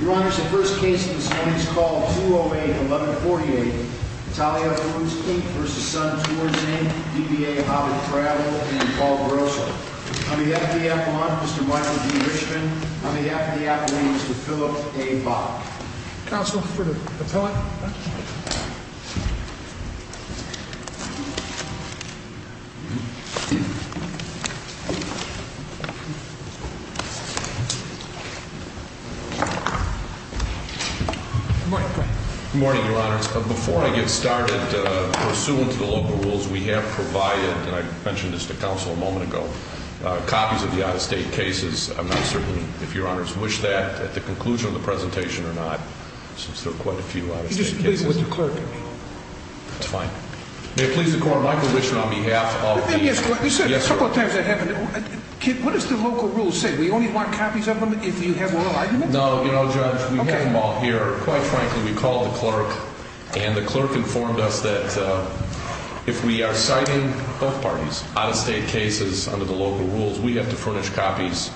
Your Honor, the first case this morning is called 208-1148, Italia Foods v. Sun Tours, DBA Hobbit Travel, and Paul Grosso. On behalf of the Appellant, Mr. Michael G. Richman. On behalf of the Appellant, Mr. Philip A. Bach. Counsel for the Appellant. Good morning. Good morning, Your Honors. Before I get started, pursuant to the local rules, we have provided, and I mentioned this to counsel a moment ago, copies of the out-of-state cases. I'm not certain if Your Honors wish that at the conclusion of the presentation or not, since there are quite a few out-of-state cases. He just pleaded with the clerk. That's fine. May it please the Court, Michael Richman, on behalf of... You said a couple of times I haven't... What does the local rule say? We only want copies of them if you have oral arguments? No, you know, Judge, we have them all here. Quite frankly, we called the clerk, and the clerk informed us that if we are citing both parties' out-of-state cases under the local rules, we have to furnish copies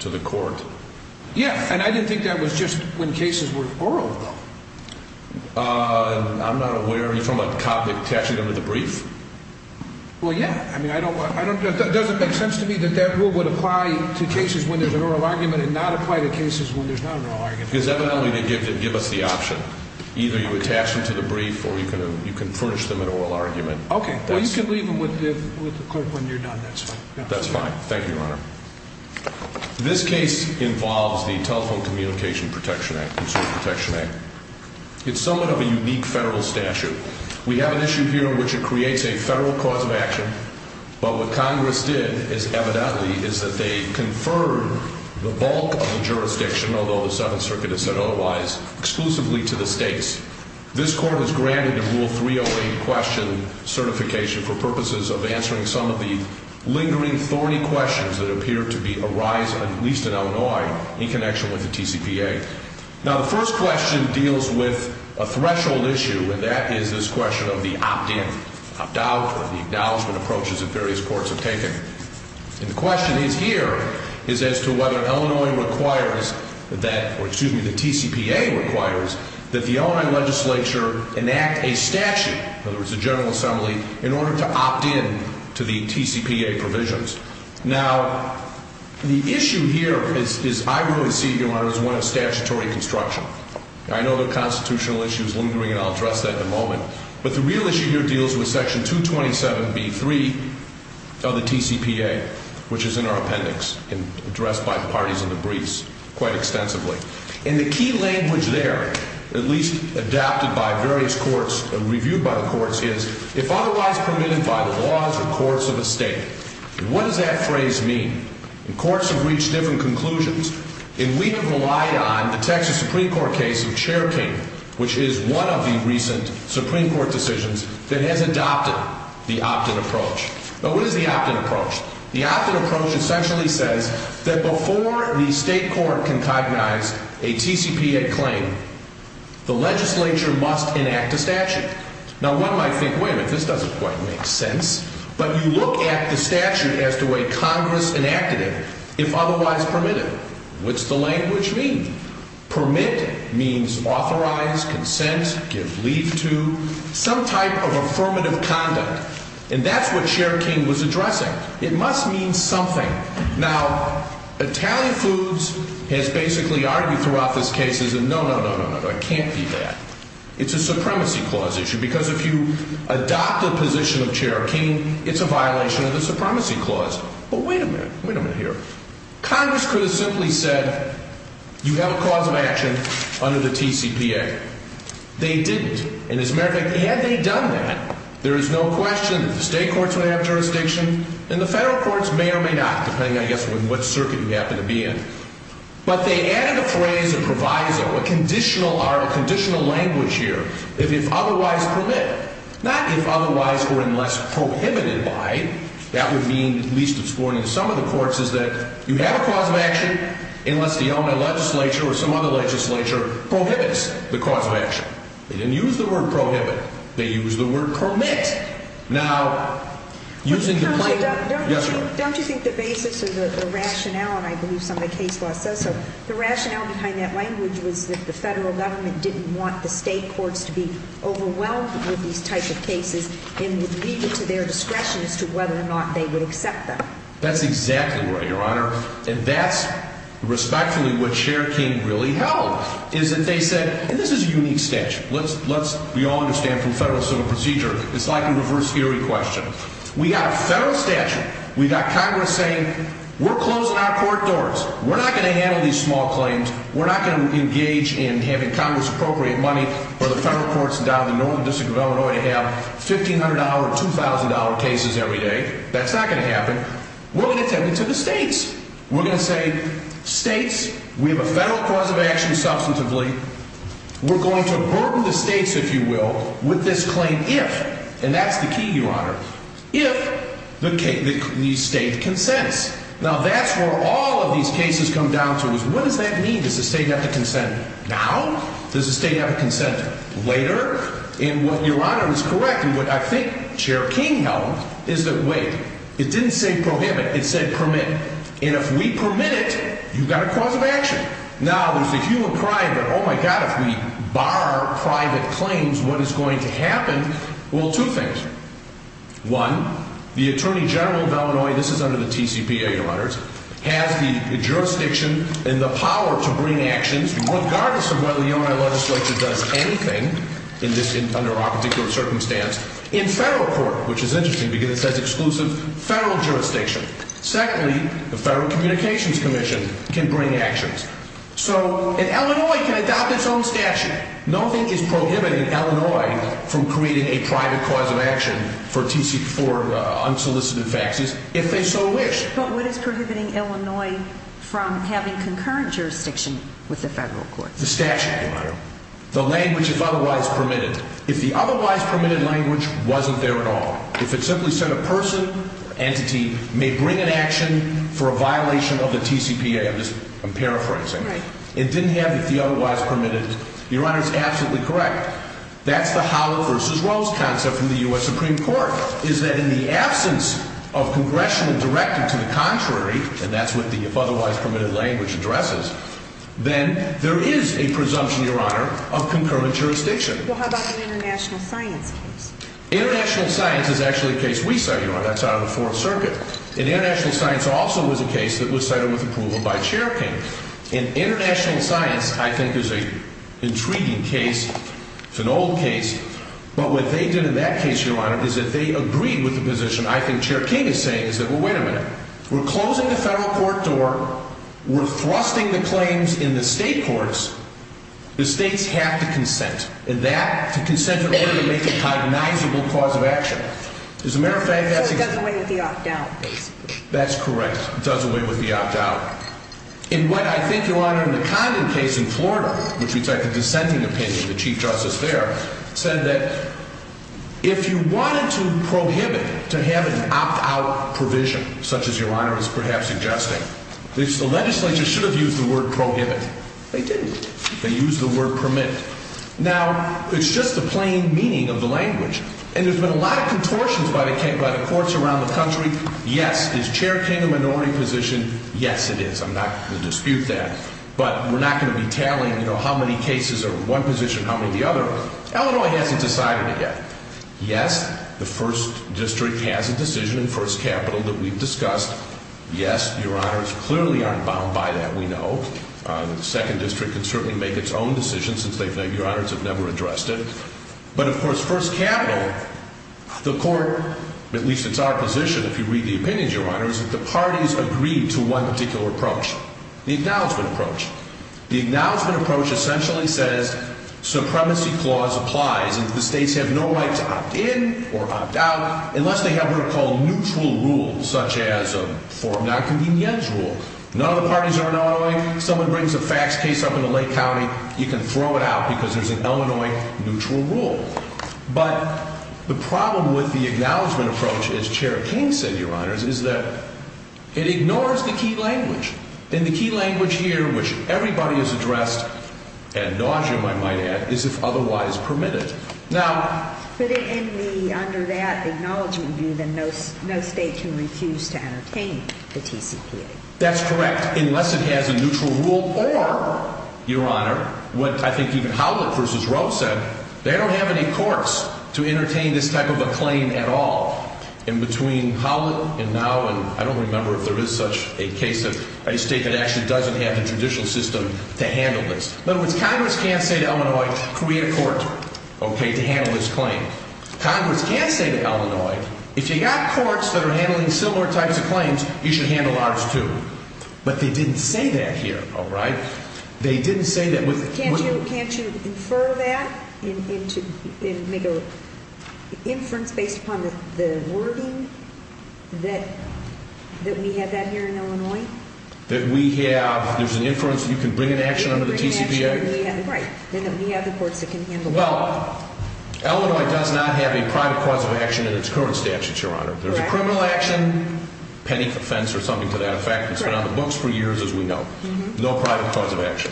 to the Court. Yeah, and I didn't think that was just when cases were oral, though. I'm not aware. Are you talking about Copnick cashing them in the brief? Well, yeah. I mean, I don't... It doesn't make sense to me that that rule would apply to cases when there's an oral argument and not apply to cases when there's not an oral argument. Because evidently they give us the option. Either you attach them to the brief, or you can furnish them an oral argument. Okay. Well, you can leave them with the clerk when you're done. That's fine. That's fine. Thank you, Your Honor. This case involves the Telephone Communication Protection Act, Consumer Protection Act. It's somewhat of a unique federal statute. We have an issue here in which it creates a federal cause of action. But what Congress did, evidently, is that they conferred the bulk of the jurisdiction, although the Seventh Circuit has said otherwise, exclusively to the states. This Court has granted the Rule 308 question certification for purposes of answering some of the lingering, thorny questions that appear to arise, at least in Illinois, in connection with the TCPA. Now, the first question deals with a threshold issue, and that is this question of the opt-in, opt-out, or the acknowledgment approaches that various courts have taken. And the question here is as to whether Illinois requires that, or excuse me, the TCPA requires that the Illinois legislature enact a statute, in other words, a General Assembly, in order to opt-in to the TCPA provisions. Now, the issue here is, I really see, Your Honor, as one of statutory construction. I know the constitutional issue is lingering, and I'll address that in a moment. But the real issue here deals with Section 227b-3 of the TCPA, which is in our appendix, and addressed by the parties in the briefs quite extensively. And the key language there, at least adopted by various courts and reviewed by the courts, is, if otherwise permitted by the laws or courts of a state, what does that phrase mean? And courts have reached different conclusions. And we have relied on the Texas Supreme Court case of Cherokee, which is one of the recent Supreme Court decisions that has adopted the opt-in approach. Now, what is the opt-in approach? The opt-in approach essentially says that before the state court can cognize a TCPA claim, the legislature must enact a statute. Now, one might think, wait a minute, this doesn't quite make sense. But you look at the statute as to a Congress enacted it, if otherwise permitted. What's the language mean? Permit means authorize, consent, give leave to, some type of affirmative conduct. And that's what Cherokee was addressing. It must mean something. Now, Italian Foods has basically argued throughout this case, no, no, no, no, no, it can't be that. It's a supremacy clause issue, because if you adopt a position of Cherokee, it's a violation of the supremacy clause. But wait a minute, wait a minute here. Congress could have simply said, you have a cause of action under the TCPA. They didn't. And as a matter of fact, had they done that, there is no question that the state courts would have jurisdiction, and the federal courts may or may not, depending, I guess, on what circuit you happen to be in. But they added a phrase, a proviso, a conditional language here, if otherwise permitted. Not if otherwise or unless prohibited by. That would mean, at least it's borne in some of the courts, is that you have a cause of action, unless the Illinois legislature or some other legislature prohibits the cause of action. They didn't use the word prohibit. They used the word permit. Now, using the position of the court, yes, ma'am. Don't you think the basis of the rationale, and I believe some of the case law says so, the rationale behind that language was that the federal government didn't want the state courts to be overwhelmed with these types of cases and would leave it to their discretion as to whether or not they would accept them. That's exactly right, Your Honor, and that's respectfully what Cherokee really held, is that they said, and this is a unique statute, we all understand from federal civil procedure, it's like a reverse theory question. We got a federal statute. We got Congress saying, we're closing our court doors. We're not going to handle these small claims. We're not going to engage in having Congress appropriate money for the federal courts down in the Northern District of Illinois to have $1,500, $2,000 cases every day. That's not going to happen. We're going to tell it to the states. We're going to say, states, we have a federal cause of action substantively. We're going to burden the states, if you will, with this claim if, and that's the key, Your Honor, if the state consents. Now, that's where all of these cases come down to is what does that mean? Does the state have to consent now? Does the state have to consent later? And what Your Honor is correct in what I think Cherokee held is that, wait, it didn't say prohibit. It said permit. And if we permit it, you've got a cause of action. Now, there's a human pride that, oh, my God, if we bar private claims, what is going to happen? Well, two things. One, the Attorney General of Illinois, this is under the TCPA, Your Honors, has the jurisdiction and the power to bring actions regardless of whether the Illinois legislature does anything under our particular circumstance in federal court, which is interesting because it says exclusive federal jurisdiction. Secondly, the Federal Communications Commission can bring actions. So an Illinois can adopt its own statute. Nothing is prohibiting Illinois from creating a private cause of action for unsolicited faxes if they so wish. But what is prohibiting Illinois from having concurrent jurisdiction with the federal courts? The statute, Your Honor. The language, if otherwise permitted. If the otherwise permitted language wasn't there at all, if it simply said a person, entity, may bring an action for a violation of the TCPA, I'm just paraphrasing. It didn't have the otherwise permitted. Your Honor, it's absolutely correct. That's the Howell versus Rose concept from the U.S. Supreme Court, is that in the absence of congressional directive to the contrary, and that's what the otherwise permitted language addresses, then there is a presumption, Your Honor, of concurrent jurisdiction. Well, how about the international science case? International science is actually a case we cited, Your Honor. That's out of the Fourth Circuit. And international science also was a case that was cited with approval by Chair King. And international science, I think, is an intriguing case. It's an old case. But what they did in that case, Your Honor, is that they agreed with the position I think Chair King is saying, is that, well, wait a minute. We're closing the federal court door. We're thrusting the claims in the state courts. The states have to consent. And that, to consent in order to make a cognizable cause of action. As a matter of fact, that's the case. So it does away with the opt-out, basically. That's correct. It does away with the opt-out. In what I think, Your Honor, in the Condon case in Florida, which we cite the dissenting opinion of the Chief Justice there, said that if you wanted to prohibit to have an opt-out provision, such as Your Honor is perhaps suggesting, the legislature should have used the word prohibit. They didn't. They used the word permit. Now, it's just the plain meaning of the language. And there's been a lot of contortions by the courts around the country. Yes, is Chair King a minority position? Yes, it is. I'm not going to dispute that. But we're not going to be tallying how many cases are one position, how many the other. Illinois hasn't decided it yet. Yes, the First District has a decision in First Capital that we've discussed. Yes, Your Honors, clearly aren't bound by that, we know. The Second District can certainly make its own decision, since Your Honors have never addressed it. But, of course, First Capital, the court, at least it's our position, if you read the opinions, Your Honors, that the parties agree to one particular approach, the acknowledgment approach. The acknowledgment approach essentially says supremacy clause applies and the states have no right to opt-in or opt-out unless they have what are called neutral rules, such as a form nonconvenience rule. None of the parties are in Illinois. If someone brings a fax case up into Lake County, you can throw it out because there's an Illinois neutral rule. But the problem with the acknowledgment approach, as Chair King said, Your Honors, is that it ignores the key language. And the key language here, which everybody has addressed, and nauseam, I might add, is if otherwise permitted. Now... But under that acknowledgment view, then no state can refuse to entertain the TCPA. That's correct, unless it has a neutral rule or, Your Honor, what I think even Howlett v. Roe said, they don't have any courts to entertain this type of a claim at all. In between Howlett and now, and I don't remember if there is such a case, a state that actually doesn't have the traditional system to handle this. But what Congress can say to Illinois, create a court, okay, to handle this claim. Congress can say to Illinois, If you've got courts that are handling similar types of claims, you should handle ours too. But they didn't say that here, all right? They didn't say that with... Can't you infer that and make an inference based upon the wording that we have out here in Illinois? That we have, there's an inference you can bring into action under the TCPA? Right, and that we have the courts that can handle that. Well, Illinois does not have a private cause of action in its current statute, Your Honor. There's a criminal action, penny for fence or something to that effect. It's been on the books for years, as we know. No private cause of action.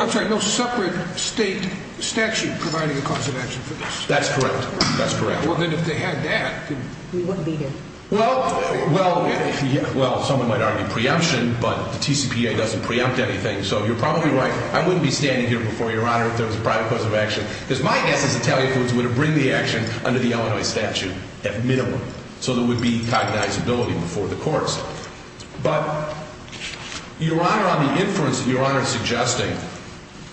I'm sorry, no separate state statute providing a cause of action for this? That's correct, that's correct. Well, then if they had that... We wouldn't be here. Well, someone might argue preemption, but the TCPA doesn't preempt anything. So you're probably right. I wouldn't be standing here before Your Honor if there was a private cause of action because my guess is Italian foods would have bring the action under the Illinois statute at minimum so there would be cognizability before the courts. But, Your Honor, on the inference that Your Honor is suggesting,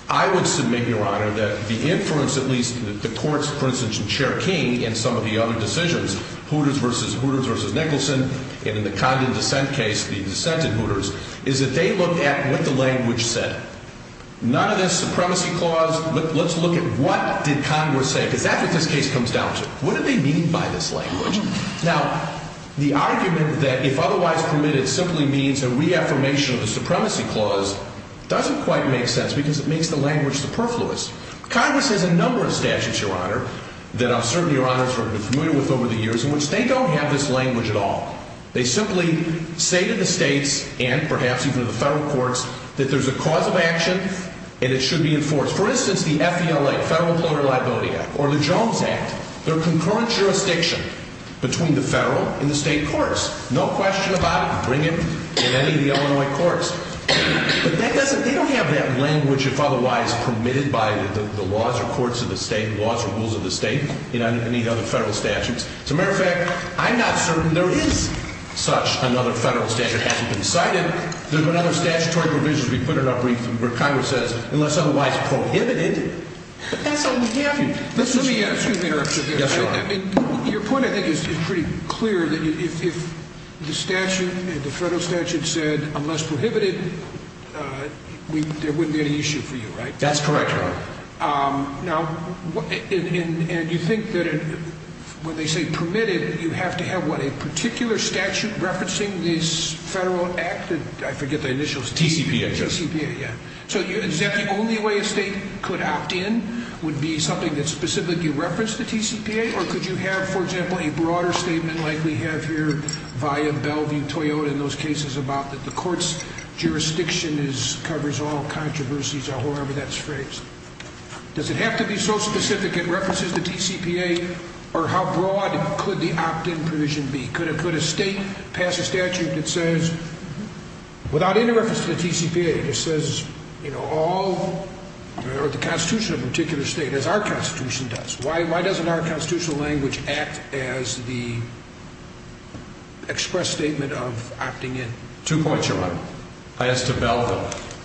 I would submit, Your Honor, that the inference at least that the courts, for instance, Cherking and some of the other decisions, Hooters v. Hooters v. Nicholson, and in the Condon dissent case, the dissent in Hooters, is that they look at what the language said. None of this supremacy clause, but let's look at what did Congress say because that's what this case comes down to. What do they mean by this language? Now, the argument that if otherwise permitted simply means a reaffirmation of the supremacy clause doesn't quite make sense because it makes the language superfluous. Congress has a number of statutes, Your Honor, that I'm certain Your Honors have been familiar with over the years in which they don't have this language at all. They simply say to the states and perhaps even to the federal courts that there's a cause of action and it should be enforced. For instance, the FELA, Federal Employer Liability Act, or the Jones Act, they're concurrent jurisdiction between the federal and the state courts. No question about it. Bring it in any of the Illinois courts. But they don't have that language if otherwise permitted by the laws or courts of the state, laws or rules of the state, and any other federal statutes. As a matter of fact, I'm not certain there is such another federal statute that hasn't been cited. There's been other statutory provisions we put in our brief where Congress says unless otherwise prohibited, but that's all we have here. Excuse me, Your Honor. Your point, I think, is pretty clear that if the statute, the federal statute said unless prohibited, there wouldn't be any issue for you, right? That's correct, Your Honor. Now, and you think that when they say permitted, you have to have, what, a particular statute referencing this federal act? I forget the initials. TCPA. TCPA, yeah. So is that the only way a state could opt in would be something that specifically referenced the TCPA, or could you have, for example, a broader statement like we have here via Bellevue-Toyota in those cases about that the court's jurisdiction covers all controversies or however that's phrased? Does it have to be so specific it references the TCPA, or how broad could the opt-in provision be? Could a state pass a statute that says, without any reference to the TCPA, it just says, you know, all, or the Constitution of a particular state, as our Constitution does. Why doesn't our constitutional language act as the express statement of opting in? Two points, Your Honor. I ask to Bellevue.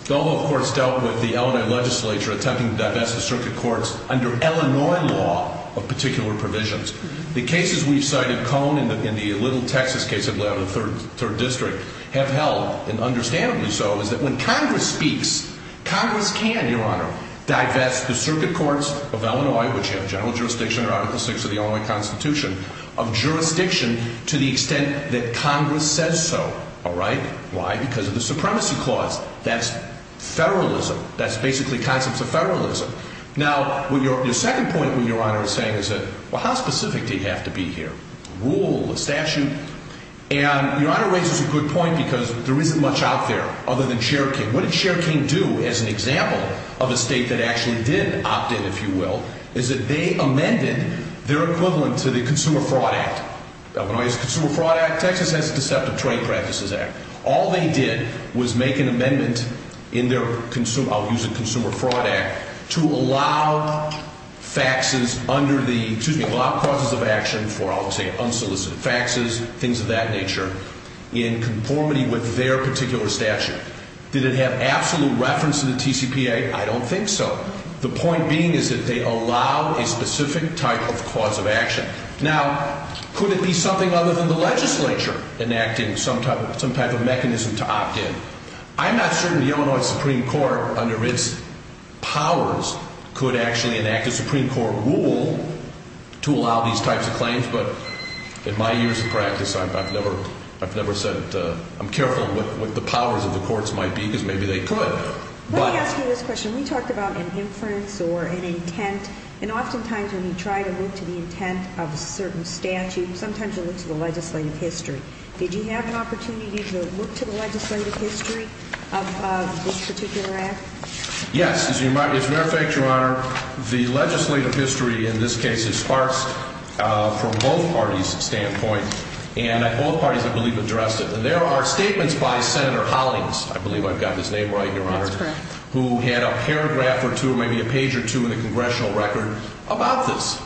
Bellevue, of course, dealt with the Illinois legislature attempting to divest the circuit courts under Illinois law of particular provisions. The cases we've cited, Cone and the Little Texas case that we have in the 3rd District, have held, and understandably so, is that when Congress speaks, Congress can, Your Honor, divest the circuit courts of Illinois, which have general jurisdiction under Article VI of the Illinois Constitution, of jurisdiction to the extent that Congress says so. All right? Why? Because of the supremacy clause. That's federalism. That's basically concepts of federalism. Now, your second point, Your Honor, is saying is that, well, how specific do you have to be here? Rule, a statute? And Your Honor raises a good point because there isn't much out there other than Cherokee. What did Cherokee do as an example of a state that actually did opt in, if you will, is that they amended their equivalent to the Consumer Fraud Act. Illinois has a Consumer Fraud Act. Texas has a Deceptive Trade Practices Act. All they did was make an amendment in their Consumer Fraud Act to allow faxes under the, excuse me, allow process of action for, I'll say, unsolicited faxes, things of that nature, in conformity with their particular statute. Did it have absolute reference to the TCPA? I don't think so. The point being is that they allow a specific type of cause of action. Now, could it be something other than the legislature enacting some type of mechanism to opt in? I'm not certain the Illinois Supreme Court, under its powers, could actually enact a Supreme Court rule to allow these types of claims, but in my years of practice, I've never said I'm careful of what the powers of the courts might be because maybe they could. Let me ask you this question. We talked about an inference or an intent, and oftentimes when you try to look to the intent of a certain statute, sometimes you look to the legislative history. Did you have an opportunity to look to the legislative history of this particular act? Yes. As a matter of fact, Your Honor, the legislative history in this case is sparse from both parties' standpoint, and both parties, I believe, addressed it. And there are statements by Senator Hollings, I believe I've got his name right, Your Honor. That's correct. Who had a paragraph or two, maybe a page or two, in the congressional record about this.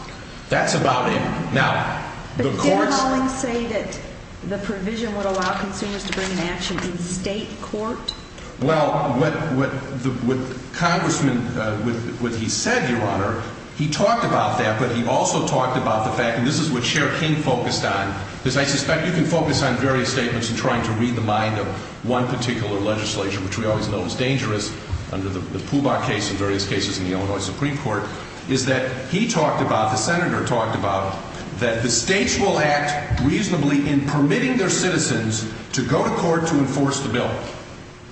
That's about it. Now, the courts— But didn't Hollings say that the provision would allow consumers to bring an action in state court? Well, what Congressman—what he said, Your Honor, he talked about that, but he also talked about the fact, and this is what Chair King focused on, because I suspect you can focus on various statements in trying to read the mind of one particular legislature, which we always know is dangerous under the Pubach case and various cases in the Illinois Supreme Court, is that he talked about, the Senator talked about, that the states will act reasonably in permitting their citizens to go to court to enforce the bill.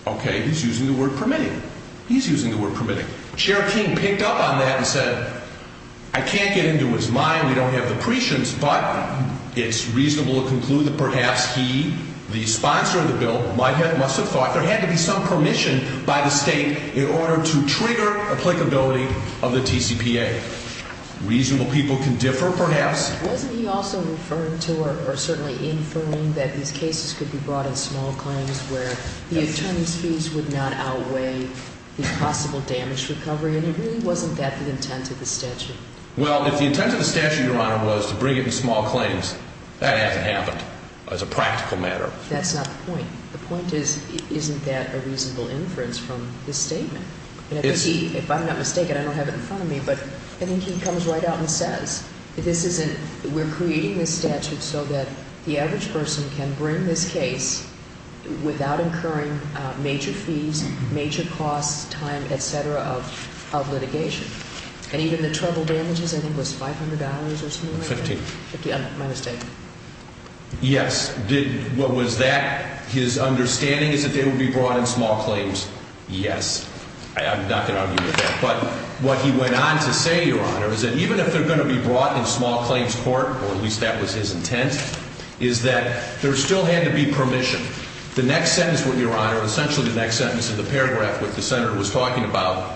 Okay, he's using the word permitting. He's using the word permitting. Chair King picked up on that and said, I can't get into his mind, we don't have the prescience, but it's reasonable to conclude that perhaps he, the sponsor of the bill, must have thought there had to be some permission by the state in order to trigger applicability of the TCPA. Reasonable people can differ, perhaps. Wasn't he also referring to or certainly inferring that these cases could be brought in small claims where the attorney's fees would not outweigh the possible damage recovery, and it really wasn't that the intent of the statute? Well, if the intent of the statute, Your Honor, was to bring it in small claims, that hasn't happened as a practical matter. That's not the point. The point is, isn't that a reasonable inference from his statement? If I'm not mistaken, I don't have it in front of me, but I think he comes right out and says, we're creating this statute so that the average person can bring this case without incurring major fees, major costs, time, et cetera, of litigation. And even the trouble damages, I think, was $500 or something like that? Fifteen. My mistake. Yes. What was that? His understanding is that they would be brought in small claims. Yes. I'm not going to argue with that. But what he went on to say, Your Honor, is that even if they're going to be brought in small claims court, or at least that was his intent, is that there still had to be permission. The next sentence, Your Honor, essentially the next sentence of the paragraph that the senator was talking about,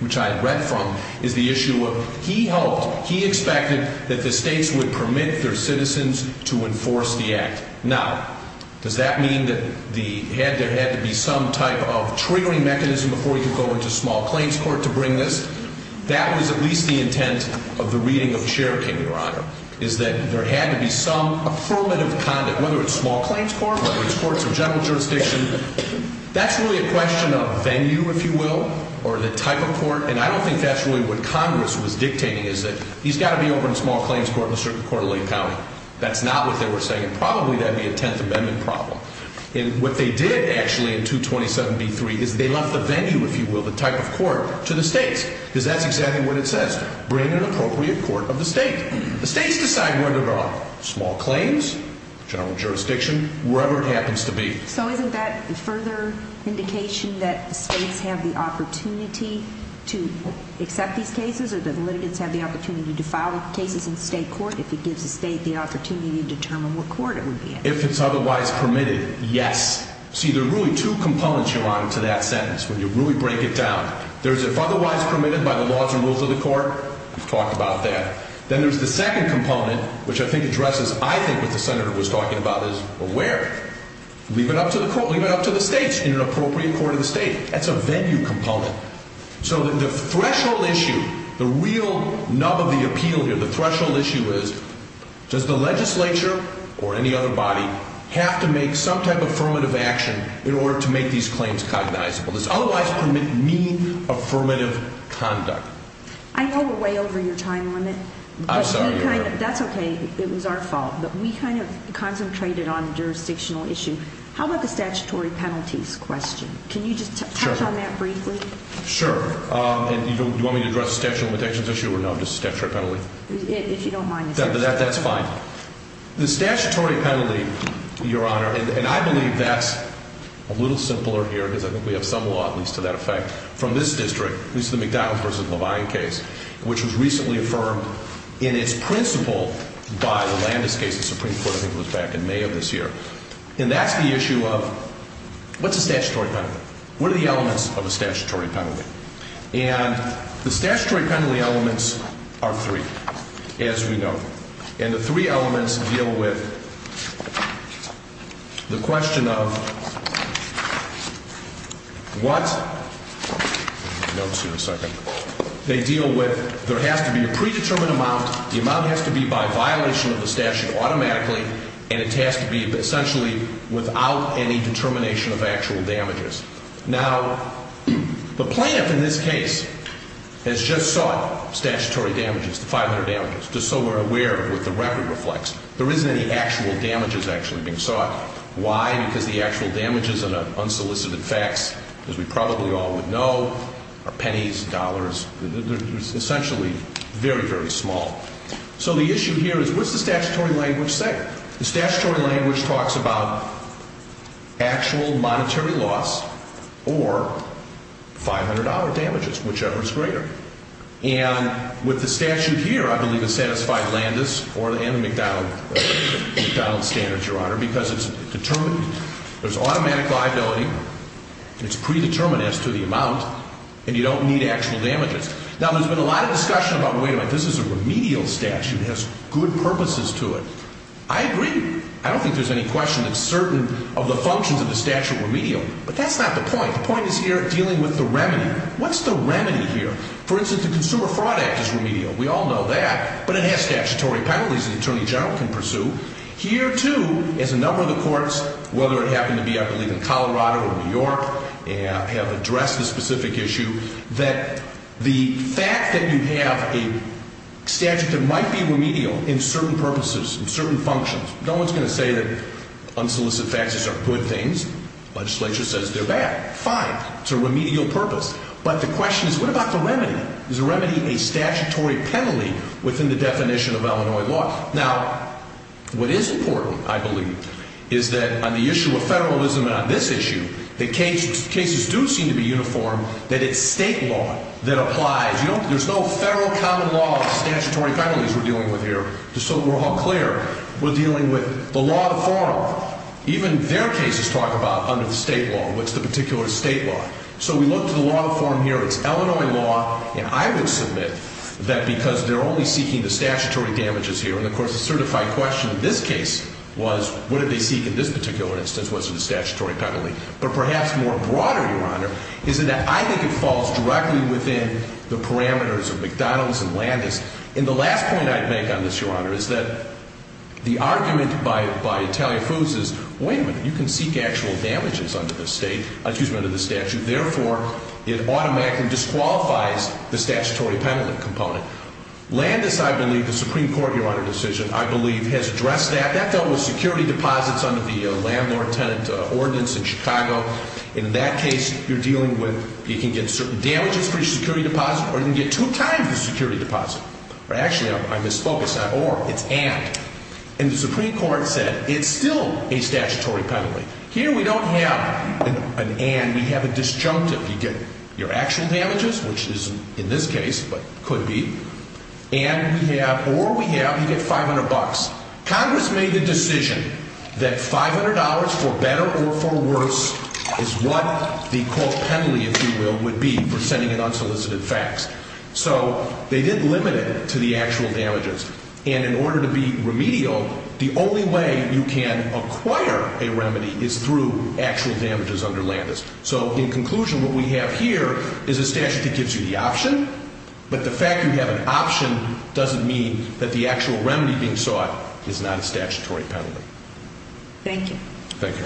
which I had read from, is the issue of he hoped, he expected, that the states would permit their citizens to enforce the act. Now, does that mean that there had to be some type of triggering mechanism before he could go into small claims court to bring this? That was at least the intent of the reading of the share payment, Your Honor, is that there had to be some affirmative conduct, whether it's small claims court, whether it's courts of general jurisdiction. That's really a question of venue, if you will, or the type of court. And I don't think that's really what Congress was dictating, is that he's got to be over in small claims court in a certain quarterly county. That's not what they were saying. Probably that would be a Tenth Amendment problem. And what they did, actually, in 227b3, is they left the venue, if you will, the type of court, to the states, because that's exactly what it says, bring an appropriate court of the state. The states decide whether they're on small claims, general jurisdiction, wherever it happens to be. So isn't that a further indication that states have the opportunity to accept these cases or that litigants have the opportunity to file cases in state court If it's otherwise permitted, yes. See, there are really two components, Your Honor, to that sentence when you really break it down. There's if otherwise permitted by the laws and rules of the court. We've talked about that. Then there's the second component, which I think addresses, I think, what the senator was talking about is where? Leave it up to the states in an appropriate court of the state. That's a venue component. So the threshold issue, the real nub of the appeal here, the threshold issue is does the legislature or any other body have to make some type of affirmative action in order to make these claims cognizable? Does otherwise permit mean affirmative conduct? I know we're way over your time limit. I'm sorry, Your Honor. That's okay. It was our fault, but we kind of concentrated on the jurisdictional issue. How about the statutory penalties question? Can you just touch on that briefly? Sure. Do you want me to address the statute of limitations issue or no? Just the statutory penalty? If you don't mind. That's fine. The statutory penalty, Your Honor, and I believe that's a little simpler here because I think we have some law at least to that effect from this district, at least the McDonald versus Levine case, which was recently affirmed in its principle by the Landis case the Supreme Court I think was back in May of this year. And that's the issue of what's a statutory penalty? What are the elements of a statutory penalty? And the statutory penalty elements are three, as we know. And the three elements deal with the question of what they deal with. There has to be a predetermined amount. The amount has to be by violation of the statute automatically, and it has to be essentially without any determination of actual damages. Now, the plaintiff in this case has just sought statutory damages, the 500 damages, just so we're aware of what the record reflects. There isn't any actual damages actually being sought. Why? Because the actual damages in an unsolicited fax, as we probably all would know, are pennies, dollars. They're essentially very, very small. So the issue here is what's the statutory language say? The statutory language talks about actual monetary loss or $500 damages, whichever is greater. And with the statute here, I believe it satisfied Landis and the McDonald standards, Your Honor, because it's determined there's automatic liability, and it's predetermined as to the amount, and you don't need actual damages. Now, there's been a lot of discussion about, wait a minute, this is a remedial statute. It has good purposes to it. I agree. I don't think there's any question that certain of the functions of the statute are remedial, but that's not the point. The point is here dealing with the remedy. What's the remedy here? For instance, the Consumer Fraud Act is remedial. We all know that, but it has statutory penalties that an attorney general can pursue. Here, too, as a number of the courts, whether it happened to be, I believe, in Colorado or New York, have addressed this specific issue, that the fact that you have a statute that might be remedial in certain purposes, in certain functions, no one's going to say that unsolicited faxes are good things. The legislature says they're bad. Fine. It's a remedial purpose. But the question is, what about the remedy? Is the remedy a statutory penalty within the definition of Illinois law? Now, what is important, I believe, is that on the issue of federalism and on this issue, that cases do seem to be uniform, that it's state law that applies. There's no federal common law of statutory penalties we're dealing with here. Just so we're all clear, we're dealing with the law of the forum. Even their cases talk about under the state law, what's the particular state law. So we look to the law of the forum here. It's Illinois law, and I would submit that because they're only seeking the statutory damages here, and of course the certified question in this case was, what did they seek in this particular instance? What's the statutory penalty? But perhaps more broadly, Your Honor, is that I think it falls directly within the parameters of McDonald's and Landis. And the last point I'd make on this, Your Honor, is that the argument by Italian Foods is, wait a minute, you can seek actual damages under the statute. Therefore, it automatically disqualifies the statutory penalty component. Landis, I believe, the Supreme Court, Your Honor, decision, I believe, has addressed that. That dealt with security deposits under the landlord-tenant ordinance in Chicago. In that case, you're dealing with, you can get certain damages for your security deposit, or you can get two times the security deposit. Actually, I misspoke. It's not or, it's and. And the Supreme Court said, it's still a statutory penalty. Here we don't have an and, we have a disjunctive. You get your actual damages, which isn't in this case, but could be. And we have, or we have, you get 500 bucks. Congress made the decision that $500 for better or for worse is what the court penalty, if you will, would be for sending an unsolicited fax. So they did limit it to the actual damages. And in order to be remedial, the only way you can acquire a remedy is through actual damages under Landis. So in conclusion, what we have here is a statute that gives you the option, but the fact you have an option doesn't mean that the actual remedy being sought is not a statutory penalty. Thank you. Thank you.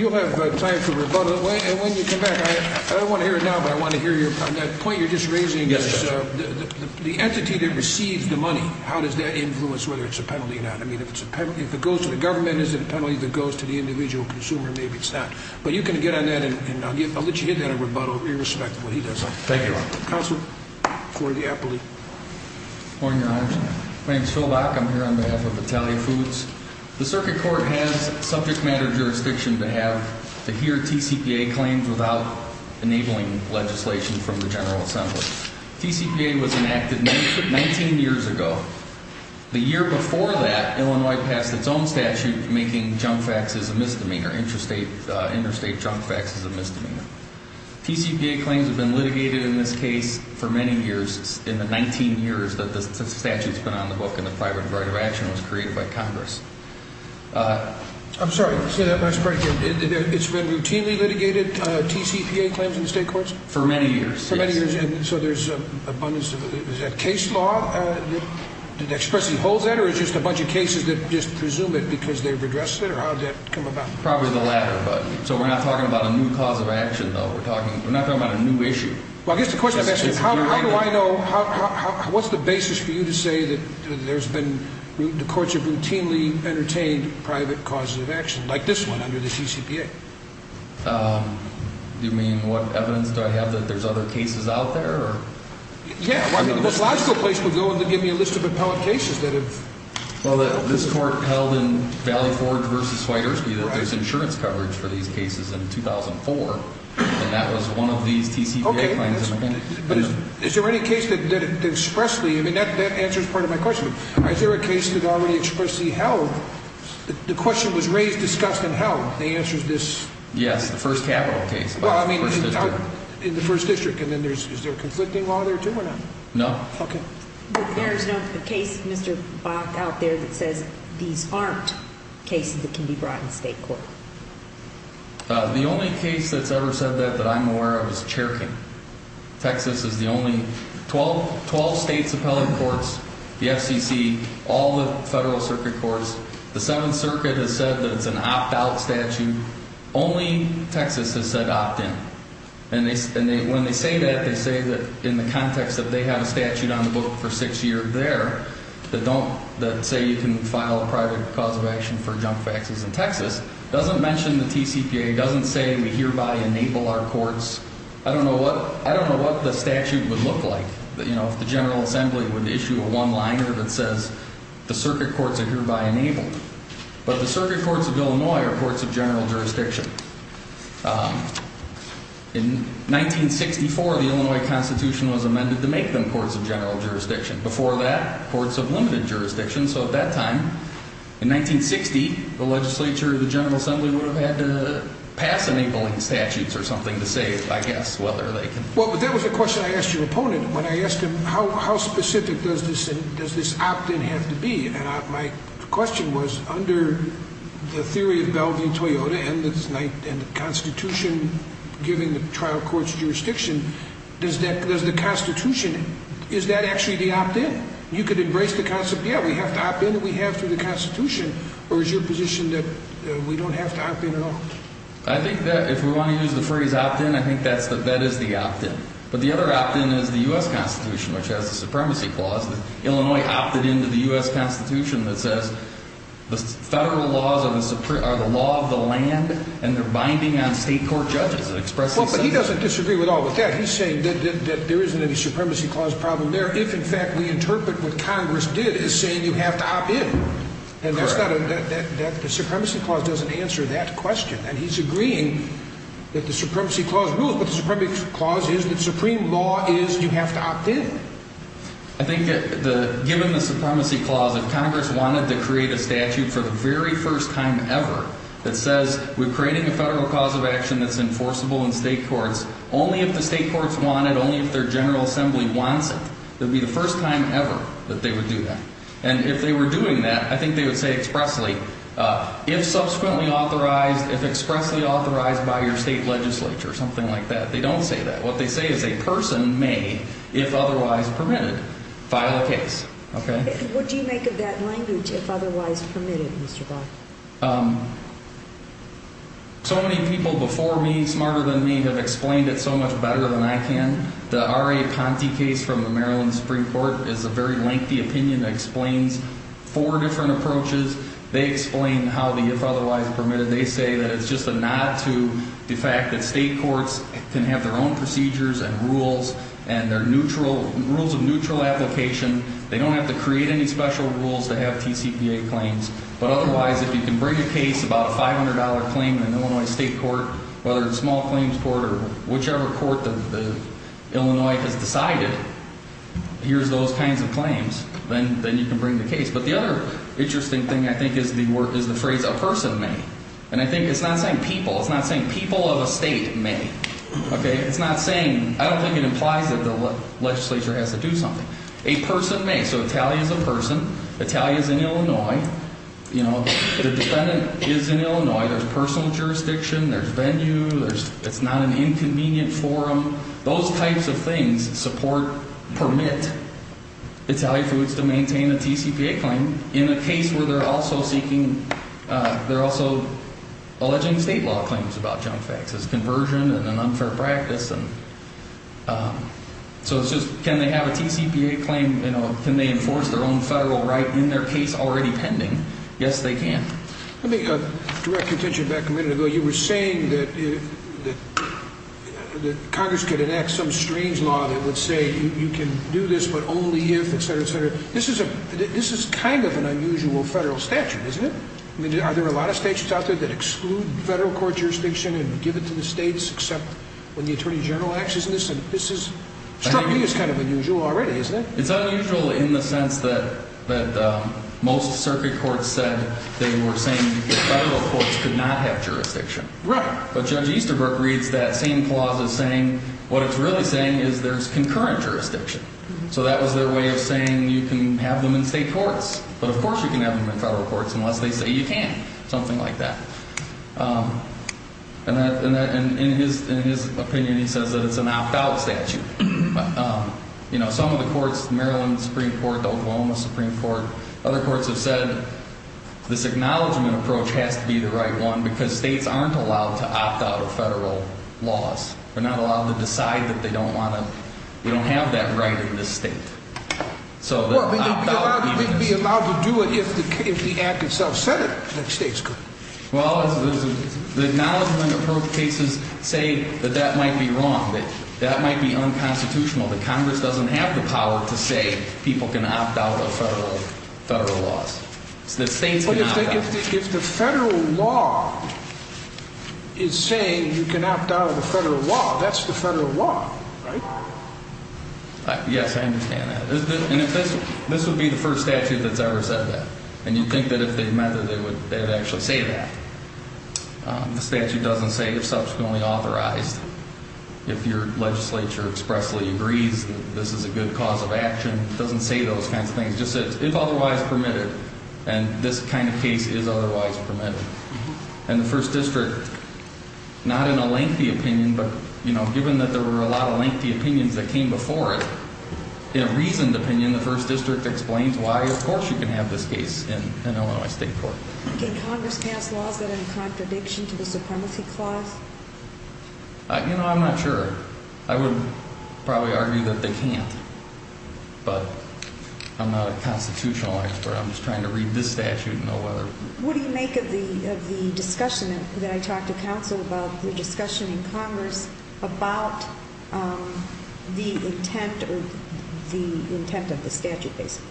You'll have time for rebuttal. And when you come back, I don't want to hear it now, but I want to hear your point. The point you're just raising is the entity that receives the money, how does that influence whether it's a penalty or not? I mean, if it's a penalty, if it goes to the government, is it a penalty that goes to the individual consumer? Maybe it's not. But you can get on that, and I'll let you hit that in rebuttal, irrespective of what he does. Thank you, Your Honor. Counsel for the appellee. Morning, Your Honor. My name is Phil Bach. I'm here on behalf of Italia Foods. The Circuit Court has subject matter jurisdiction to hear TCPA claims without enabling legislation from the General Assembly. TCPA was enacted 19 years ago. The year before that, Illinois passed its own statute making junk faxes a misdemeanor, interstate junk faxes a misdemeanor. TCPA claims have been litigated in this case for many years, in the 19 years that the statute's been on the book and the private right of action was created by Congress. I'm sorry. Say that last part again. It's been routinely litigated, TCPA claims in state courts? For many years, yes. For many years, and so there's abundance of it. Is that case law that expressly holds that, or is it just a bunch of cases that just presume it because they've addressed it? Or how did that come about? Probably the latter. So we're not talking about a new cause of action, though. We're not talking about a new issue. Well, I guess the question I'm asking is how do I know, what's the basis for you to say that there's been, the courts have routinely entertained private causes of action, like this one, under the TCPA? You mean what evidence do I have that there's other cases out there? Yeah. The most logical place to go would be to give me a list of appellate cases that have... And that was one of these TCPA claims. Okay. But is there any case that expressly, I mean, that answers part of my question. Is there a case that already expressly held, the question was raised, discussed, and held, and the answer is this? Yes, the first capital case. Well, I mean, in the first district, and then is there a conflicting law there, too, or not? No. Okay. But there is no case, Mr. Bach, out there that says these aren't cases that can be brought in state court? The only case that's ever said that that I'm aware of is Cherkin. Texas is the only... Twelve states' appellate courts, the FCC, all the Federal Circuit courts, the Seventh Circuit has said that it's an opt-out statute. Only Texas has said opt-in. And when they say that, they say that in the context that they have a statute on the book for six years there, that say you can file a private cause of action for junk faxes in Texas, doesn't mention the TCPA, doesn't say we hereby enable our courts. I don't know what the statute would look like. You know, if the General Assembly would issue a one-liner that says the circuit courts are hereby enabled. But the circuit courts of Illinois are courts of general jurisdiction. In 1964, the Illinois Constitution was amended to make them courts of general jurisdiction. Before that, courts of limited jurisdiction. So at that time, in 1960, the legislature, the General Assembly would have had to pass enabling statutes or something to say, I guess, whether they could... Well, but that was the question I asked your opponent when I asked him how specific does this opt-in have to be? And my question was, under the theory of Bellevue-Toyota and the Constitution giving the trial courts jurisdiction, does the Constitution, is that actually the opt-in? You could embrace the concept, yeah, we have to opt-in, we have to the Constitution, or is your position that we don't have to opt-in at all? I think that if we want to use the phrase opt-in, I think that is the opt-in. But the other opt-in is the U.S. Constitution, which has the supremacy clause. Illinois opted into the U.S. Constitution that says the federal laws are the law of the land, and they're binding on state court judges. Well, but he doesn't disagree at all with that. He's saying that there isn't any supremacy clause problem there if, in fact, we interpret what Congress did as saying you have to opt-in. And that's not a... the supremacy clause doesn't answer that question. And he's agreeing that the supremacy clause rules, but the supremacy clause is that supreme law is you have to opt-in. I think that given the supremacy clause, if Congress wanted to create a statute for the very first time ever that says we're creating a federal cause of action that's enforceable in state courts, only if the state courts want it, only if their General Assembly wants it, it would be the first time ever that they would do that. And if they were doing that, I think they would say expressly, if subsequently authorized, if expressly authorized by your state legislature, something like that. They don't say that. What they say is a person may, if otherwise permitted, file a case. Okay? What do you make of that language, if otherwise permitted, Mr. Barr? So many people before me, smarter than me, have explained it so much better than I can. The R.A. Ponte case from the Maryland Supreme Court is a very lengthy opinion that explains four different approaches. They explain how the if otherwise permitted... They have their own procedures and rules and their rules of neutral application. They don't have to create any special rules to have TCPA claims. But otherwise, if you can bring a case, about a $500 claim in an Illinois state court, whether it's a small claims court or whichever court that Illinois has decided, here's those kinds of claims. Then you can bring the case. But the other interesting thing, I think, is the phrase a person may. And I think it's not saying people. It's not saying people of a state may. Okay? It's not saying... I don't think it implies that the legislature has to do something. A person may. So Italia is a person. Italia is in Illinois. You know, the defendant is in Illinois. There's personal jurisdiction. There's venue. It's not an inconvenient forum. Those types of things support, permit, Italian foods to maintain a TCPA claim in a case where they're also seeking... They're also alleging state law claims about junk faxes, conversion and an unfair practice. So it's just, can they have a TCPA claim? Can they enforce their own federal right in their case already pending? Yes, they can. Let me direct your attention back a minute ago. You were saying that Congress could enact some strange law that would say you can do this, but only if, et cetera, et cetera. This is kind of an unusual federal statute, isn't it? I mean, are there a lot of statutes out there that exclude federal court jurisdiction and give it to the states, except when the Attorney General acts? Isn't this... this is... struggling is kind of unusual already, isn't it? It's unusual in the sense that most circuit courts said they were saying that federal courts could not have jurisdiction. Right. But Judge Easterbrook reads that same clause as saying what it's really saying is there's concurrent jurisdiction. So that was their way of saying you can have them in state courts, but of course you can have them in federal courts unless they say you can't, something like that. And in his opinion, he says that it's a knockout statute. You know, some of the courts, Maryland Supreme Court, the Oklahoma Supreme Court, other courts have said this acknowledgment approach has to be the right one because states aren't allowed to opt out of federal laws. They're not allowed to decide that they don't want to... we don't have that right in this state. Well, they'd be allowed to do it if the act itself said it, that states could. Well, the acknowledgment approach cases say that that might be wrong, that that might be unconstitutional, that Congress doesn't have the power to say people can opt out of federal laws. It's that states can opt out. But if the federal law is saying you can opt out of the federal law, that's the federal law, right? Yes, I understand that. And this would be the first statute that's ever said that. And you'd think that if they meant it, they would actually say that. The statute doesn't say if subsequently authorized. If your legislature expressly agrees that this is a good cause of action, it doesn't say those kinds of things. It just says if otherwise permitted. And this kind of case is otherwise permitted. And the First District, not in a lengthy opinion, but, you know, given that there were a lot of lengthy opinions that came before it, in a reasoned opinion, the First District explains why, of course, you can have this case in Illinois State Court. Can Congress pass laws that are in contradiction to the supremacy clause? You know, I'm not sure. I would probably argue that they can't. But I'm not a constitutional expert. I'm just trying to read this statute and know whether... What do you make of the discussion that I talked to counsel about, the discussion in Congress about the intent of the statute, basically?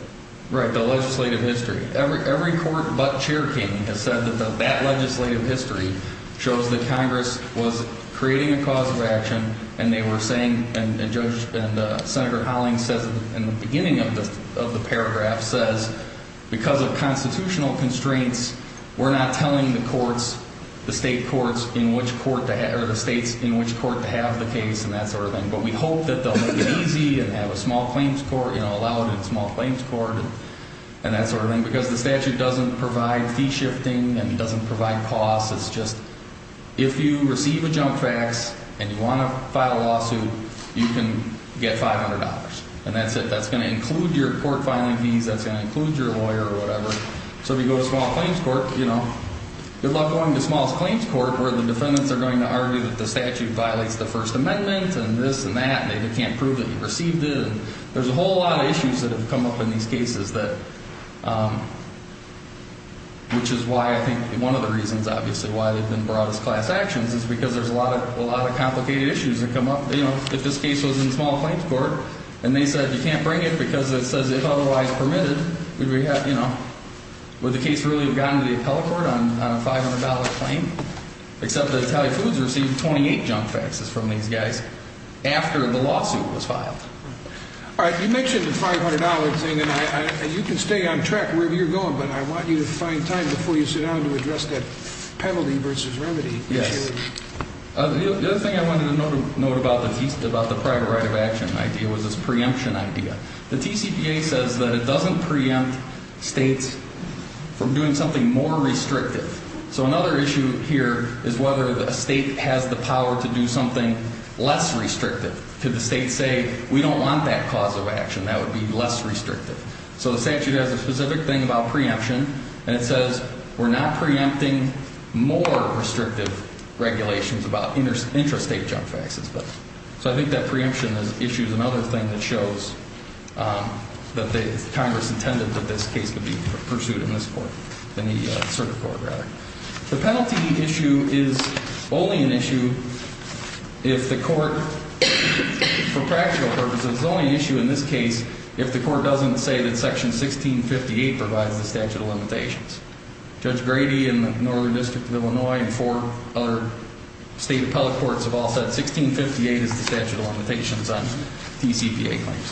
Right, the legislative history. Every court but Chair King has said that that legislative history shows that Congress was creating a cause of action. And they were saying... and Judge... and Senator Hollings says, in the beginning of the paragraph, says, because of constitutional constraints, we're not telling the courts, the state courts, in which court to have... or the states in which court to have the case and that sort of thing. But we hope that they'll make it easy and have a small claims court, you know, allow it in a small claims court and that sort of thing. Because the statute doesn't provide fee shifting and it doesn't provide costs. It's just, if you receive a junk fax and you want to file a lawsuit, you can get $500. And that's it. That's going to include your court filing fees. That's going to include your lawyer or whatever. So if you go to a small claims court, you know, you'll end up going to a small claims court where the defendants are going to argue that the statute violates the First Amendment and this and that. And they can't prove that you received it. There's a whole lot of issues that have come up in these cases that... which is why I think one of the reasons, obviously, why they've been brought as class actions is because there's a lot of complicated issues that come up. You know, if this case was in small claims court and they said you can't bring it because it says if otherwise permitted, would we have, you know... would the case really have gotten to the appellate court on a $500 claim? Except that Italian Foods received 28 junk faxes from these guys after the lawsuit was filed. All right. You mentioned the $500 thing, and you can stay on track wherever you're going, but I want you to find time before you sit down to address that penalty versus remedy. Yes. The other thing I wanted to note about the private right of action idea was this preemption idea. The TCPA says that it doesn't preempt states from doing something more restrictive. So, another issue here is whether a state has the power to do something less restrictive. Could the state say, we don't want that cause of action. That would be less restrictive. So, the statute has a specific thing about preemption, and it says we're not preempting more restrictive regulations about intrastate junk faxes. So, I think that preemption issue is another thing that shows that Congress intended that this case would be pursued in this court, in the circuit court rather. The penalty issue is only an issue if the court, for practical purposes, is only an issue in this case if the court doesn't say that Section 1658 provides the statute of limitations. Judge Grady in the Northern District of Illinois and four other state appellate courts have all said 1658 is the statute of limitations on TCPA claims.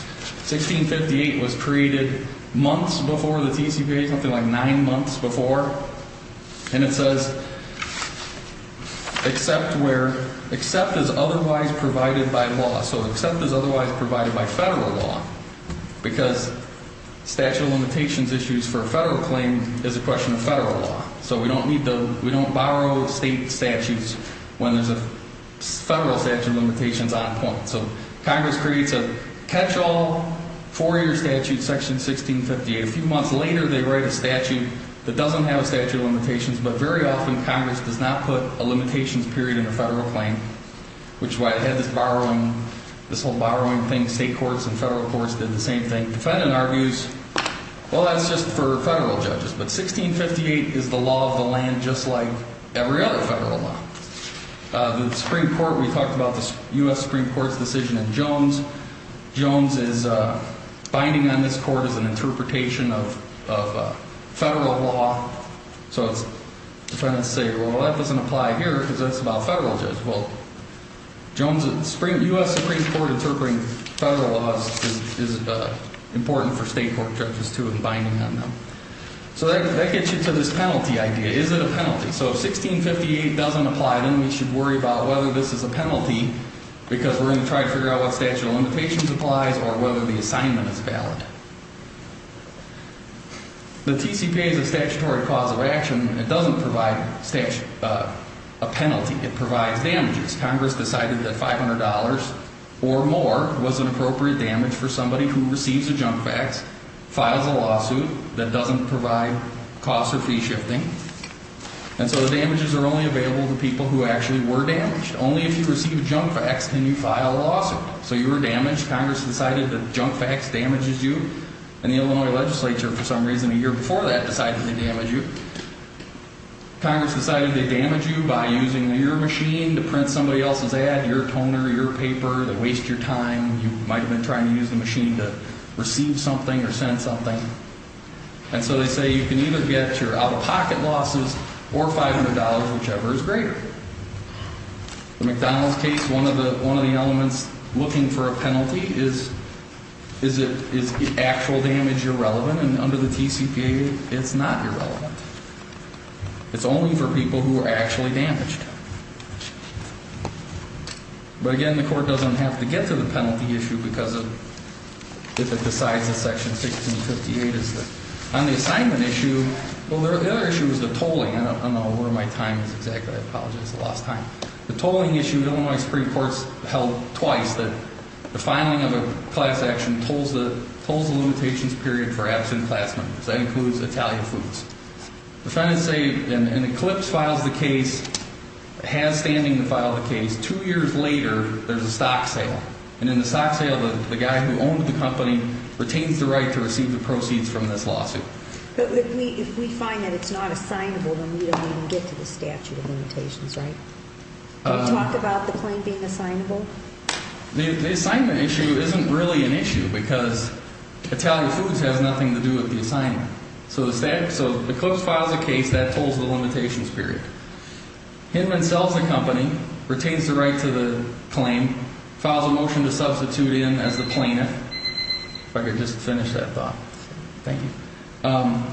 1658 was created months before the TCPA, something like nine months before, and it says except where, except as otherwise provided by law. So, except as otherwise provided by federal law because statute of limitations issues for a federal claim is a question of federal law. So, we don't need to, we don't borrow state statutes when there's a federal statute of limitations on point. So, Congress creates a catch-all four-year statute, Section 1658. A few months later, they write a statute that doesn't have a statute of limitations, but very often Congress does not put a limitations period in a federal claim, which is why I had this borrowing, this whole borrowing thing. State courts and federal courts did the same thing. Defendant argues, well, that's just for federal judges, but 1658 is the law of the land just like every other federal law. The Supreme Court, we talked about the U.S. Supreme Court's decision in Jones. Jones is binding on this court as an interpretation of federal law. So, defendants say, well, that doesn't apply here because that's about federal judges. Well, Jones, the U.S. Supreme Court interpreting federal laws is important for state court judges, too, in binding on them. So, that gets you to this penalty idea. Is it a penalty? So, if 1658 doesn't apply, then we should worry about whether this is a penalty because we're going to try to figure out what statute of limitations applies or whether the assignment is valid. The TCPA is a statutory cause of action. It doesn't provide a penalty. It provides damages. Congress decided that $500 or more was an appropriate damage for somebody who receives a junk fax, files a lawsuit that doesn't provide costs or fee shifting. And so, the damages are only available to people who actually were damaged. Only if you receive a junk fax can you file a lawsuit. So, you were damaged. Congress decided that junk fax damages you. And the Illinois legislature, for some reason, a year before that, decided to damage you. Congress decided they damage you by using your machine to print somebody else's ad, your toner, your paper, to waste your time. You might have been trying to use the machine to receive something or send something. And so, they say you can either get your out-of-pocket losses or $500, whichever is greater. The McDonald's case, one of the elements looking for a penalty is is actual damage irrelevant. And under the TCPA, it's not irrelevant. It's only for people who were actually damaged. But again, the court doesn't have to get to the penalty issue because if it decides that Section 1658 is on the assignment issue. Well, the other issue is the tolling. I don't know where my time is exactly. I apologize. I lost time. The tolling issue, Illinois Supreme Court's held twice that the filing of a class action tolls the limitations period for absent class members. That includes Italian foods. Defendants say an eclipse files the case, has standing to file the case. Two years later, there's a stock sale. And in the stock sale, the guy who owned the company retains the right to receive the proceeds from this lawsuit. But if we find that it's not assignable, then we don't even get to the statute of limitations, right? Can you talk about the claim being assignable? The assignment issue isn't really an issue because Italian foods has nothing to do with the assignment. So the eclipse files the case, that tolls the limitations period. Hinman sells the company, retains the right to the claim, files a motion to substitute in as the plaintiff. If I could just finish that thought. Thank you.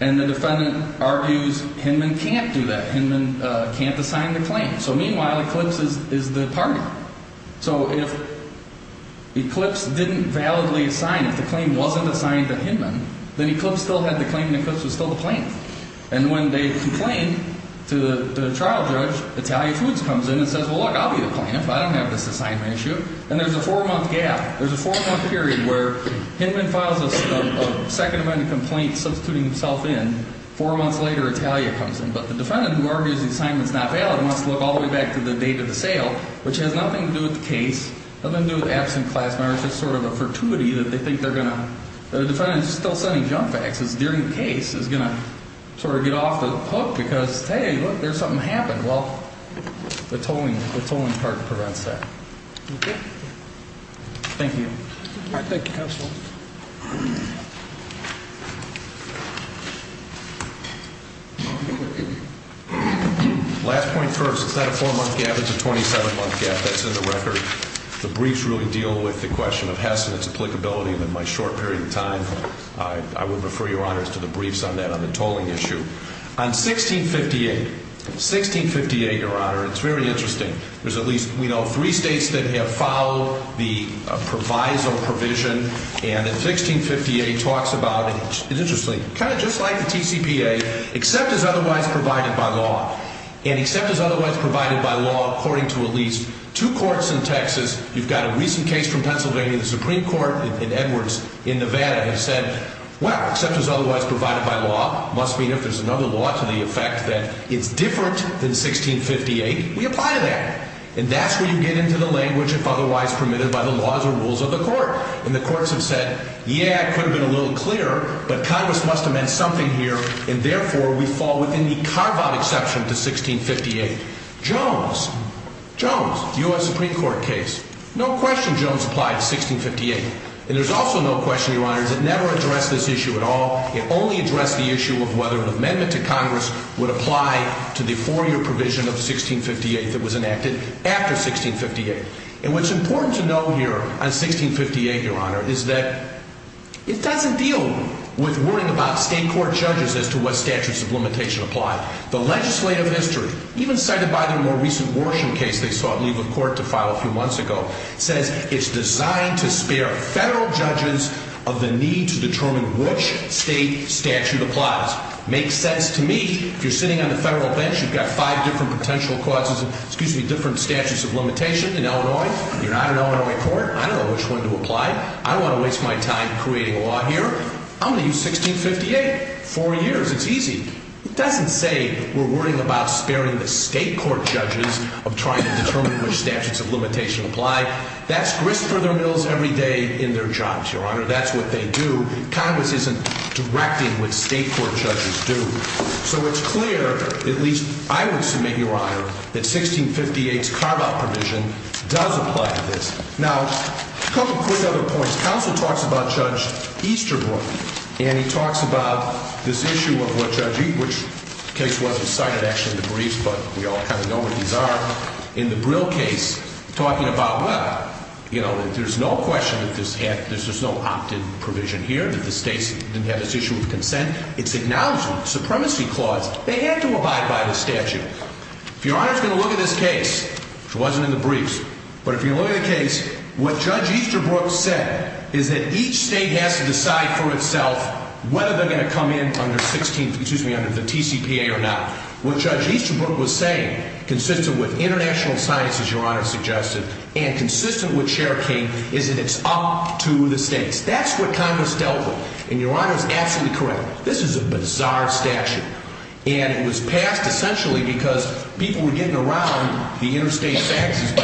And the defendant argues Hinman can't do that. Hinman can't assign the claim. So meanwhile, eclipse is the partner. So if eclipse didn't validly assign, if the claim wasn't assigned to Hinman, then eclipse still had the claim and eclipse was still the plaintiff. And when they complain to the trial judge, Italian foods comes in and says, well, look, I'll be the plaintiff. I don't have this assignment issue. And there's a four-month gap. There's a four-month period where Hinman files a second event complaint substituting himself in. Four months later, Italian comes in. But the defendant, who argues the assignment's not valid, wants to look all the way back to the date of the sale, which has nothing to do with the case, nothing to do with absent class members. It's sort of a fortuity that they think they're going to – that the defendant is still sending junk faxes during the case. It's going to sort of get off the hook because, hey, look, there's something happened. Well, the tolling card prevents that. Okay. Thank you. All right. Thank you, counsel. Last point first. It's not a four-month gap. It's a 27-month gap. That's in the record. The briefs really deal with the question of Hess and its applicability. In my short period of time, I would refer, Your Honor, to the briefs on that, on the tolling issue. On 1658, 1658, Your Honor, it's very interesting. There's at least, we know, three states that have followed the proviso provision. And in 1658, it talks about – it's interesting – kind of just like the TCPA, except as otherwise provided by law. And except as otherwise provided by law, according to at least two courts in Texas, you've got a recent case from Pennsylvania, the Supreme Court, and Edwards in Nevada have said, well, except as otherwise provided by law, it must mean if there's another law to the effect that it's different than 1658, we apply to that. And that's where you get into the language if otherwise permitted by the laws or rules of the court. And the courts have said, yeah, it could have been a little clearer, but Congress must have meant something here, and therefore, we fall within the carve-out exception to 1658. Jones, Jones, U.S. Supreme Court case. No question Jones applied to 1658. And there's also no question, Your Honor, it never addressed this issue at all. It only addressed the issue of whether an amendment to Congress would apply to the four-year provision of 1658 that was enacted after 1658. And what's important to know here on 1658, Your Honor, is that it doesn't deal with worrying about state court judges as to what statutes of limitation apply. The legislative history, even cited by the more recent Worsham case they sought leave of court to file a few months ago, says it's designed to spare federal judges of the need to determine which state statute applies. Makes sense to me. If you're sitting on the federal bench, you've got five different potential causes, excuse me, different statutes of limitation in Illinois. You're not an Illinois court. I don't know which one to apply. I don't want to waste my time creating a law here. I'm going to use 1658. Four years. It's easy. It doesn't say we're worrying about sparing the state court judges of trying to determine which statutes of limitation apply. That's grist for their mills every day in their jobs, Your Honor. That's what they do. Congress isn't directing what state court judges do. So it's clear, at least I would submit, Your Honor, that 1658's carve-out provision does apply to this. Now, a couple quick other points. This counsel talks about Judge Easterbrook, and he talks about this issue of what Judge Easterbrook, which the case wasn't cited, actually, in the briefs, but we all kind of know what these are. In the Brill case, talking about, well, you know, there's no question that this had, there's just no opted provision here, that the states didn't have this issue of consent. It's acknowledged in the Supremacy Clause. They had to abide by the statute. If Your Honor's going to look at this case, which wasn't in the briefs, but if you look at the case, what Judge Easterbrook said is that each state has to decide for itself whether they're going to come in under 16, excuse me, under the TCPA or not. What Judge Easterbrook was saying, consistent with international science, as Your Honor suggested, and consistent with Chair King, is that it's up to the states. That's what Congress dealt with, and Your Honor is absolutely correct. This is a bizarre statute, and it was passed essentially because people were getting around the interstate faxes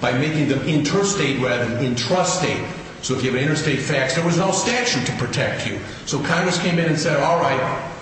by making them interstate rather than intrastate. So if you have an interstate fax, there was no statute to protect you. So Congress came in and said, all right,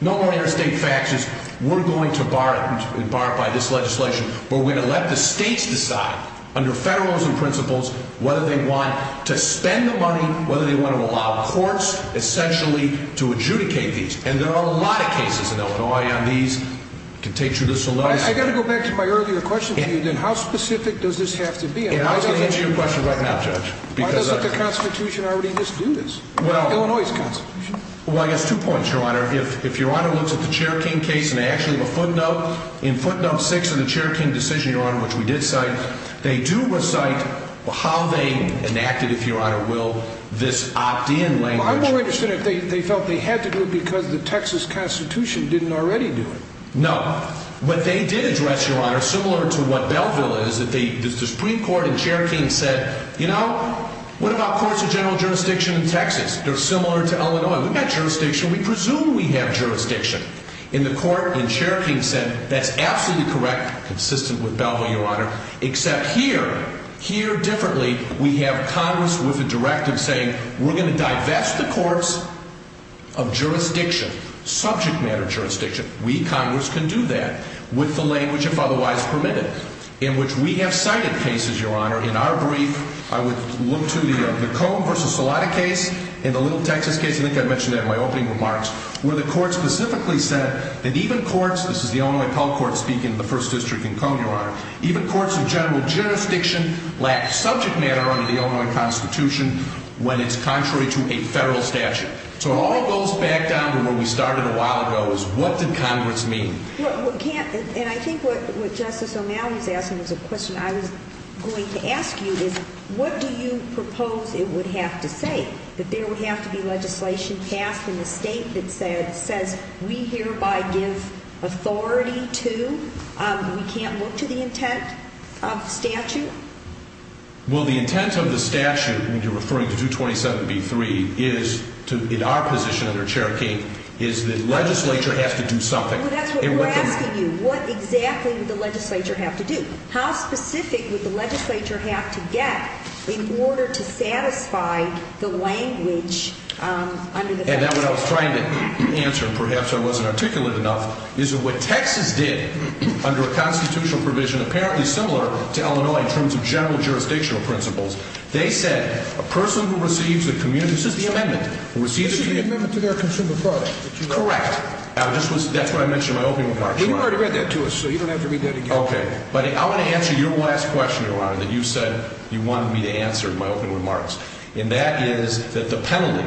no more interstate faxes. We're going to bar it by this legislation. We're going to let the states decide, under federalism principles, whether they want to spend the money, whether they want to allow courts, essentially, to adjudicate these. And there are a lot of cases in Illinois on these. I can take you through this a little. I've got to go back to my earlier question to you, then. How specific does this have to be? And I'm just going to answer your question right now, Judge. Why doesn't the Constitution already just do this? Illinois's Constitution. Well, I guess two points, Your Honor. If Your Honor looks at the Cherokee case in action of a footnote, in footnote 6 of the Cherokee decision, Your Honor, which we did cite, they do recite how they enacted, if Your Honor will, this opt-in language. Well, I'm more interested in if they felt they had to do it because the Texas Constitution didn't already do it. No. What they did address, Your Honor, similar to what Belleville is, is the Supreme Court in Cherokee said, you know, what about courts of general jurisdiction in Texas? They're similar to Illinois. We've got jurisdiction. We presume we have jurisdiction. In the court in Cherokee said that's absolutely correct, consistent with Belleville, Your Honor, except here, here differently, we have Congress with a directive saying we're going to divest the courts of jurisdiction, subject matter jurisdiction. We, Congress, can do that with the language, if otherwise permitted, in which we have cited cases, Your Honor. In our brief, I would look to the Cone v. Salata case and the Little Texas case, I think I mentioned that in my opening remarks, where the court specifically said that even courts, this is the Illinois Appellate Court speaking in the First District in Cone, Your Honor, even courts of general jurisdiction lack subject matter under the Illinois Constitution when it's contrary to a federal statute. So it all goes back down to where we started a while ago is what did Congress mean? And I think what Justice O'Malley is asking is a question I was going to ask you is what do you propose it would have to say, that there would have to be legislation passed in the state that says we hereby give authority to, we can't look to the intent of the statute? Well, the intent of the statute, and you're referring to 227B3, is to, in our position under Cherokee, is that legislature has to do something. Well, that's what we're asking you. What exactly would the legislature have to do? How specific would the legislature have to get in order to satisfy the language under the federal statute? And that's what I was trying to answer, and perhaps I wasn't articulate enough, is that what Texas did under a constitutional provision apparently similar to Illinois in terms of general jurisdictional principles, they said a person who receives a, this is the amendment, who receives a This is the amendment to their consumer product. Correct. That's what I mentioned in my opening remarks. But you already read that to us, so you don't have to read that again. Okay. But I want to answer your last question, Your Honor, that you said you wanted me to answer in my opening remarks, and that is that the penalty,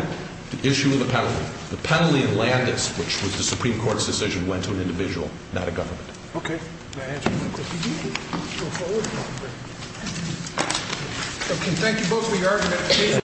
the issue of the penalty, the penalty in Landis, which was the Supreme Court's decision, went to an individual, not a government. Okay. May I answer that question? Go forward. I can thank you both for your argument.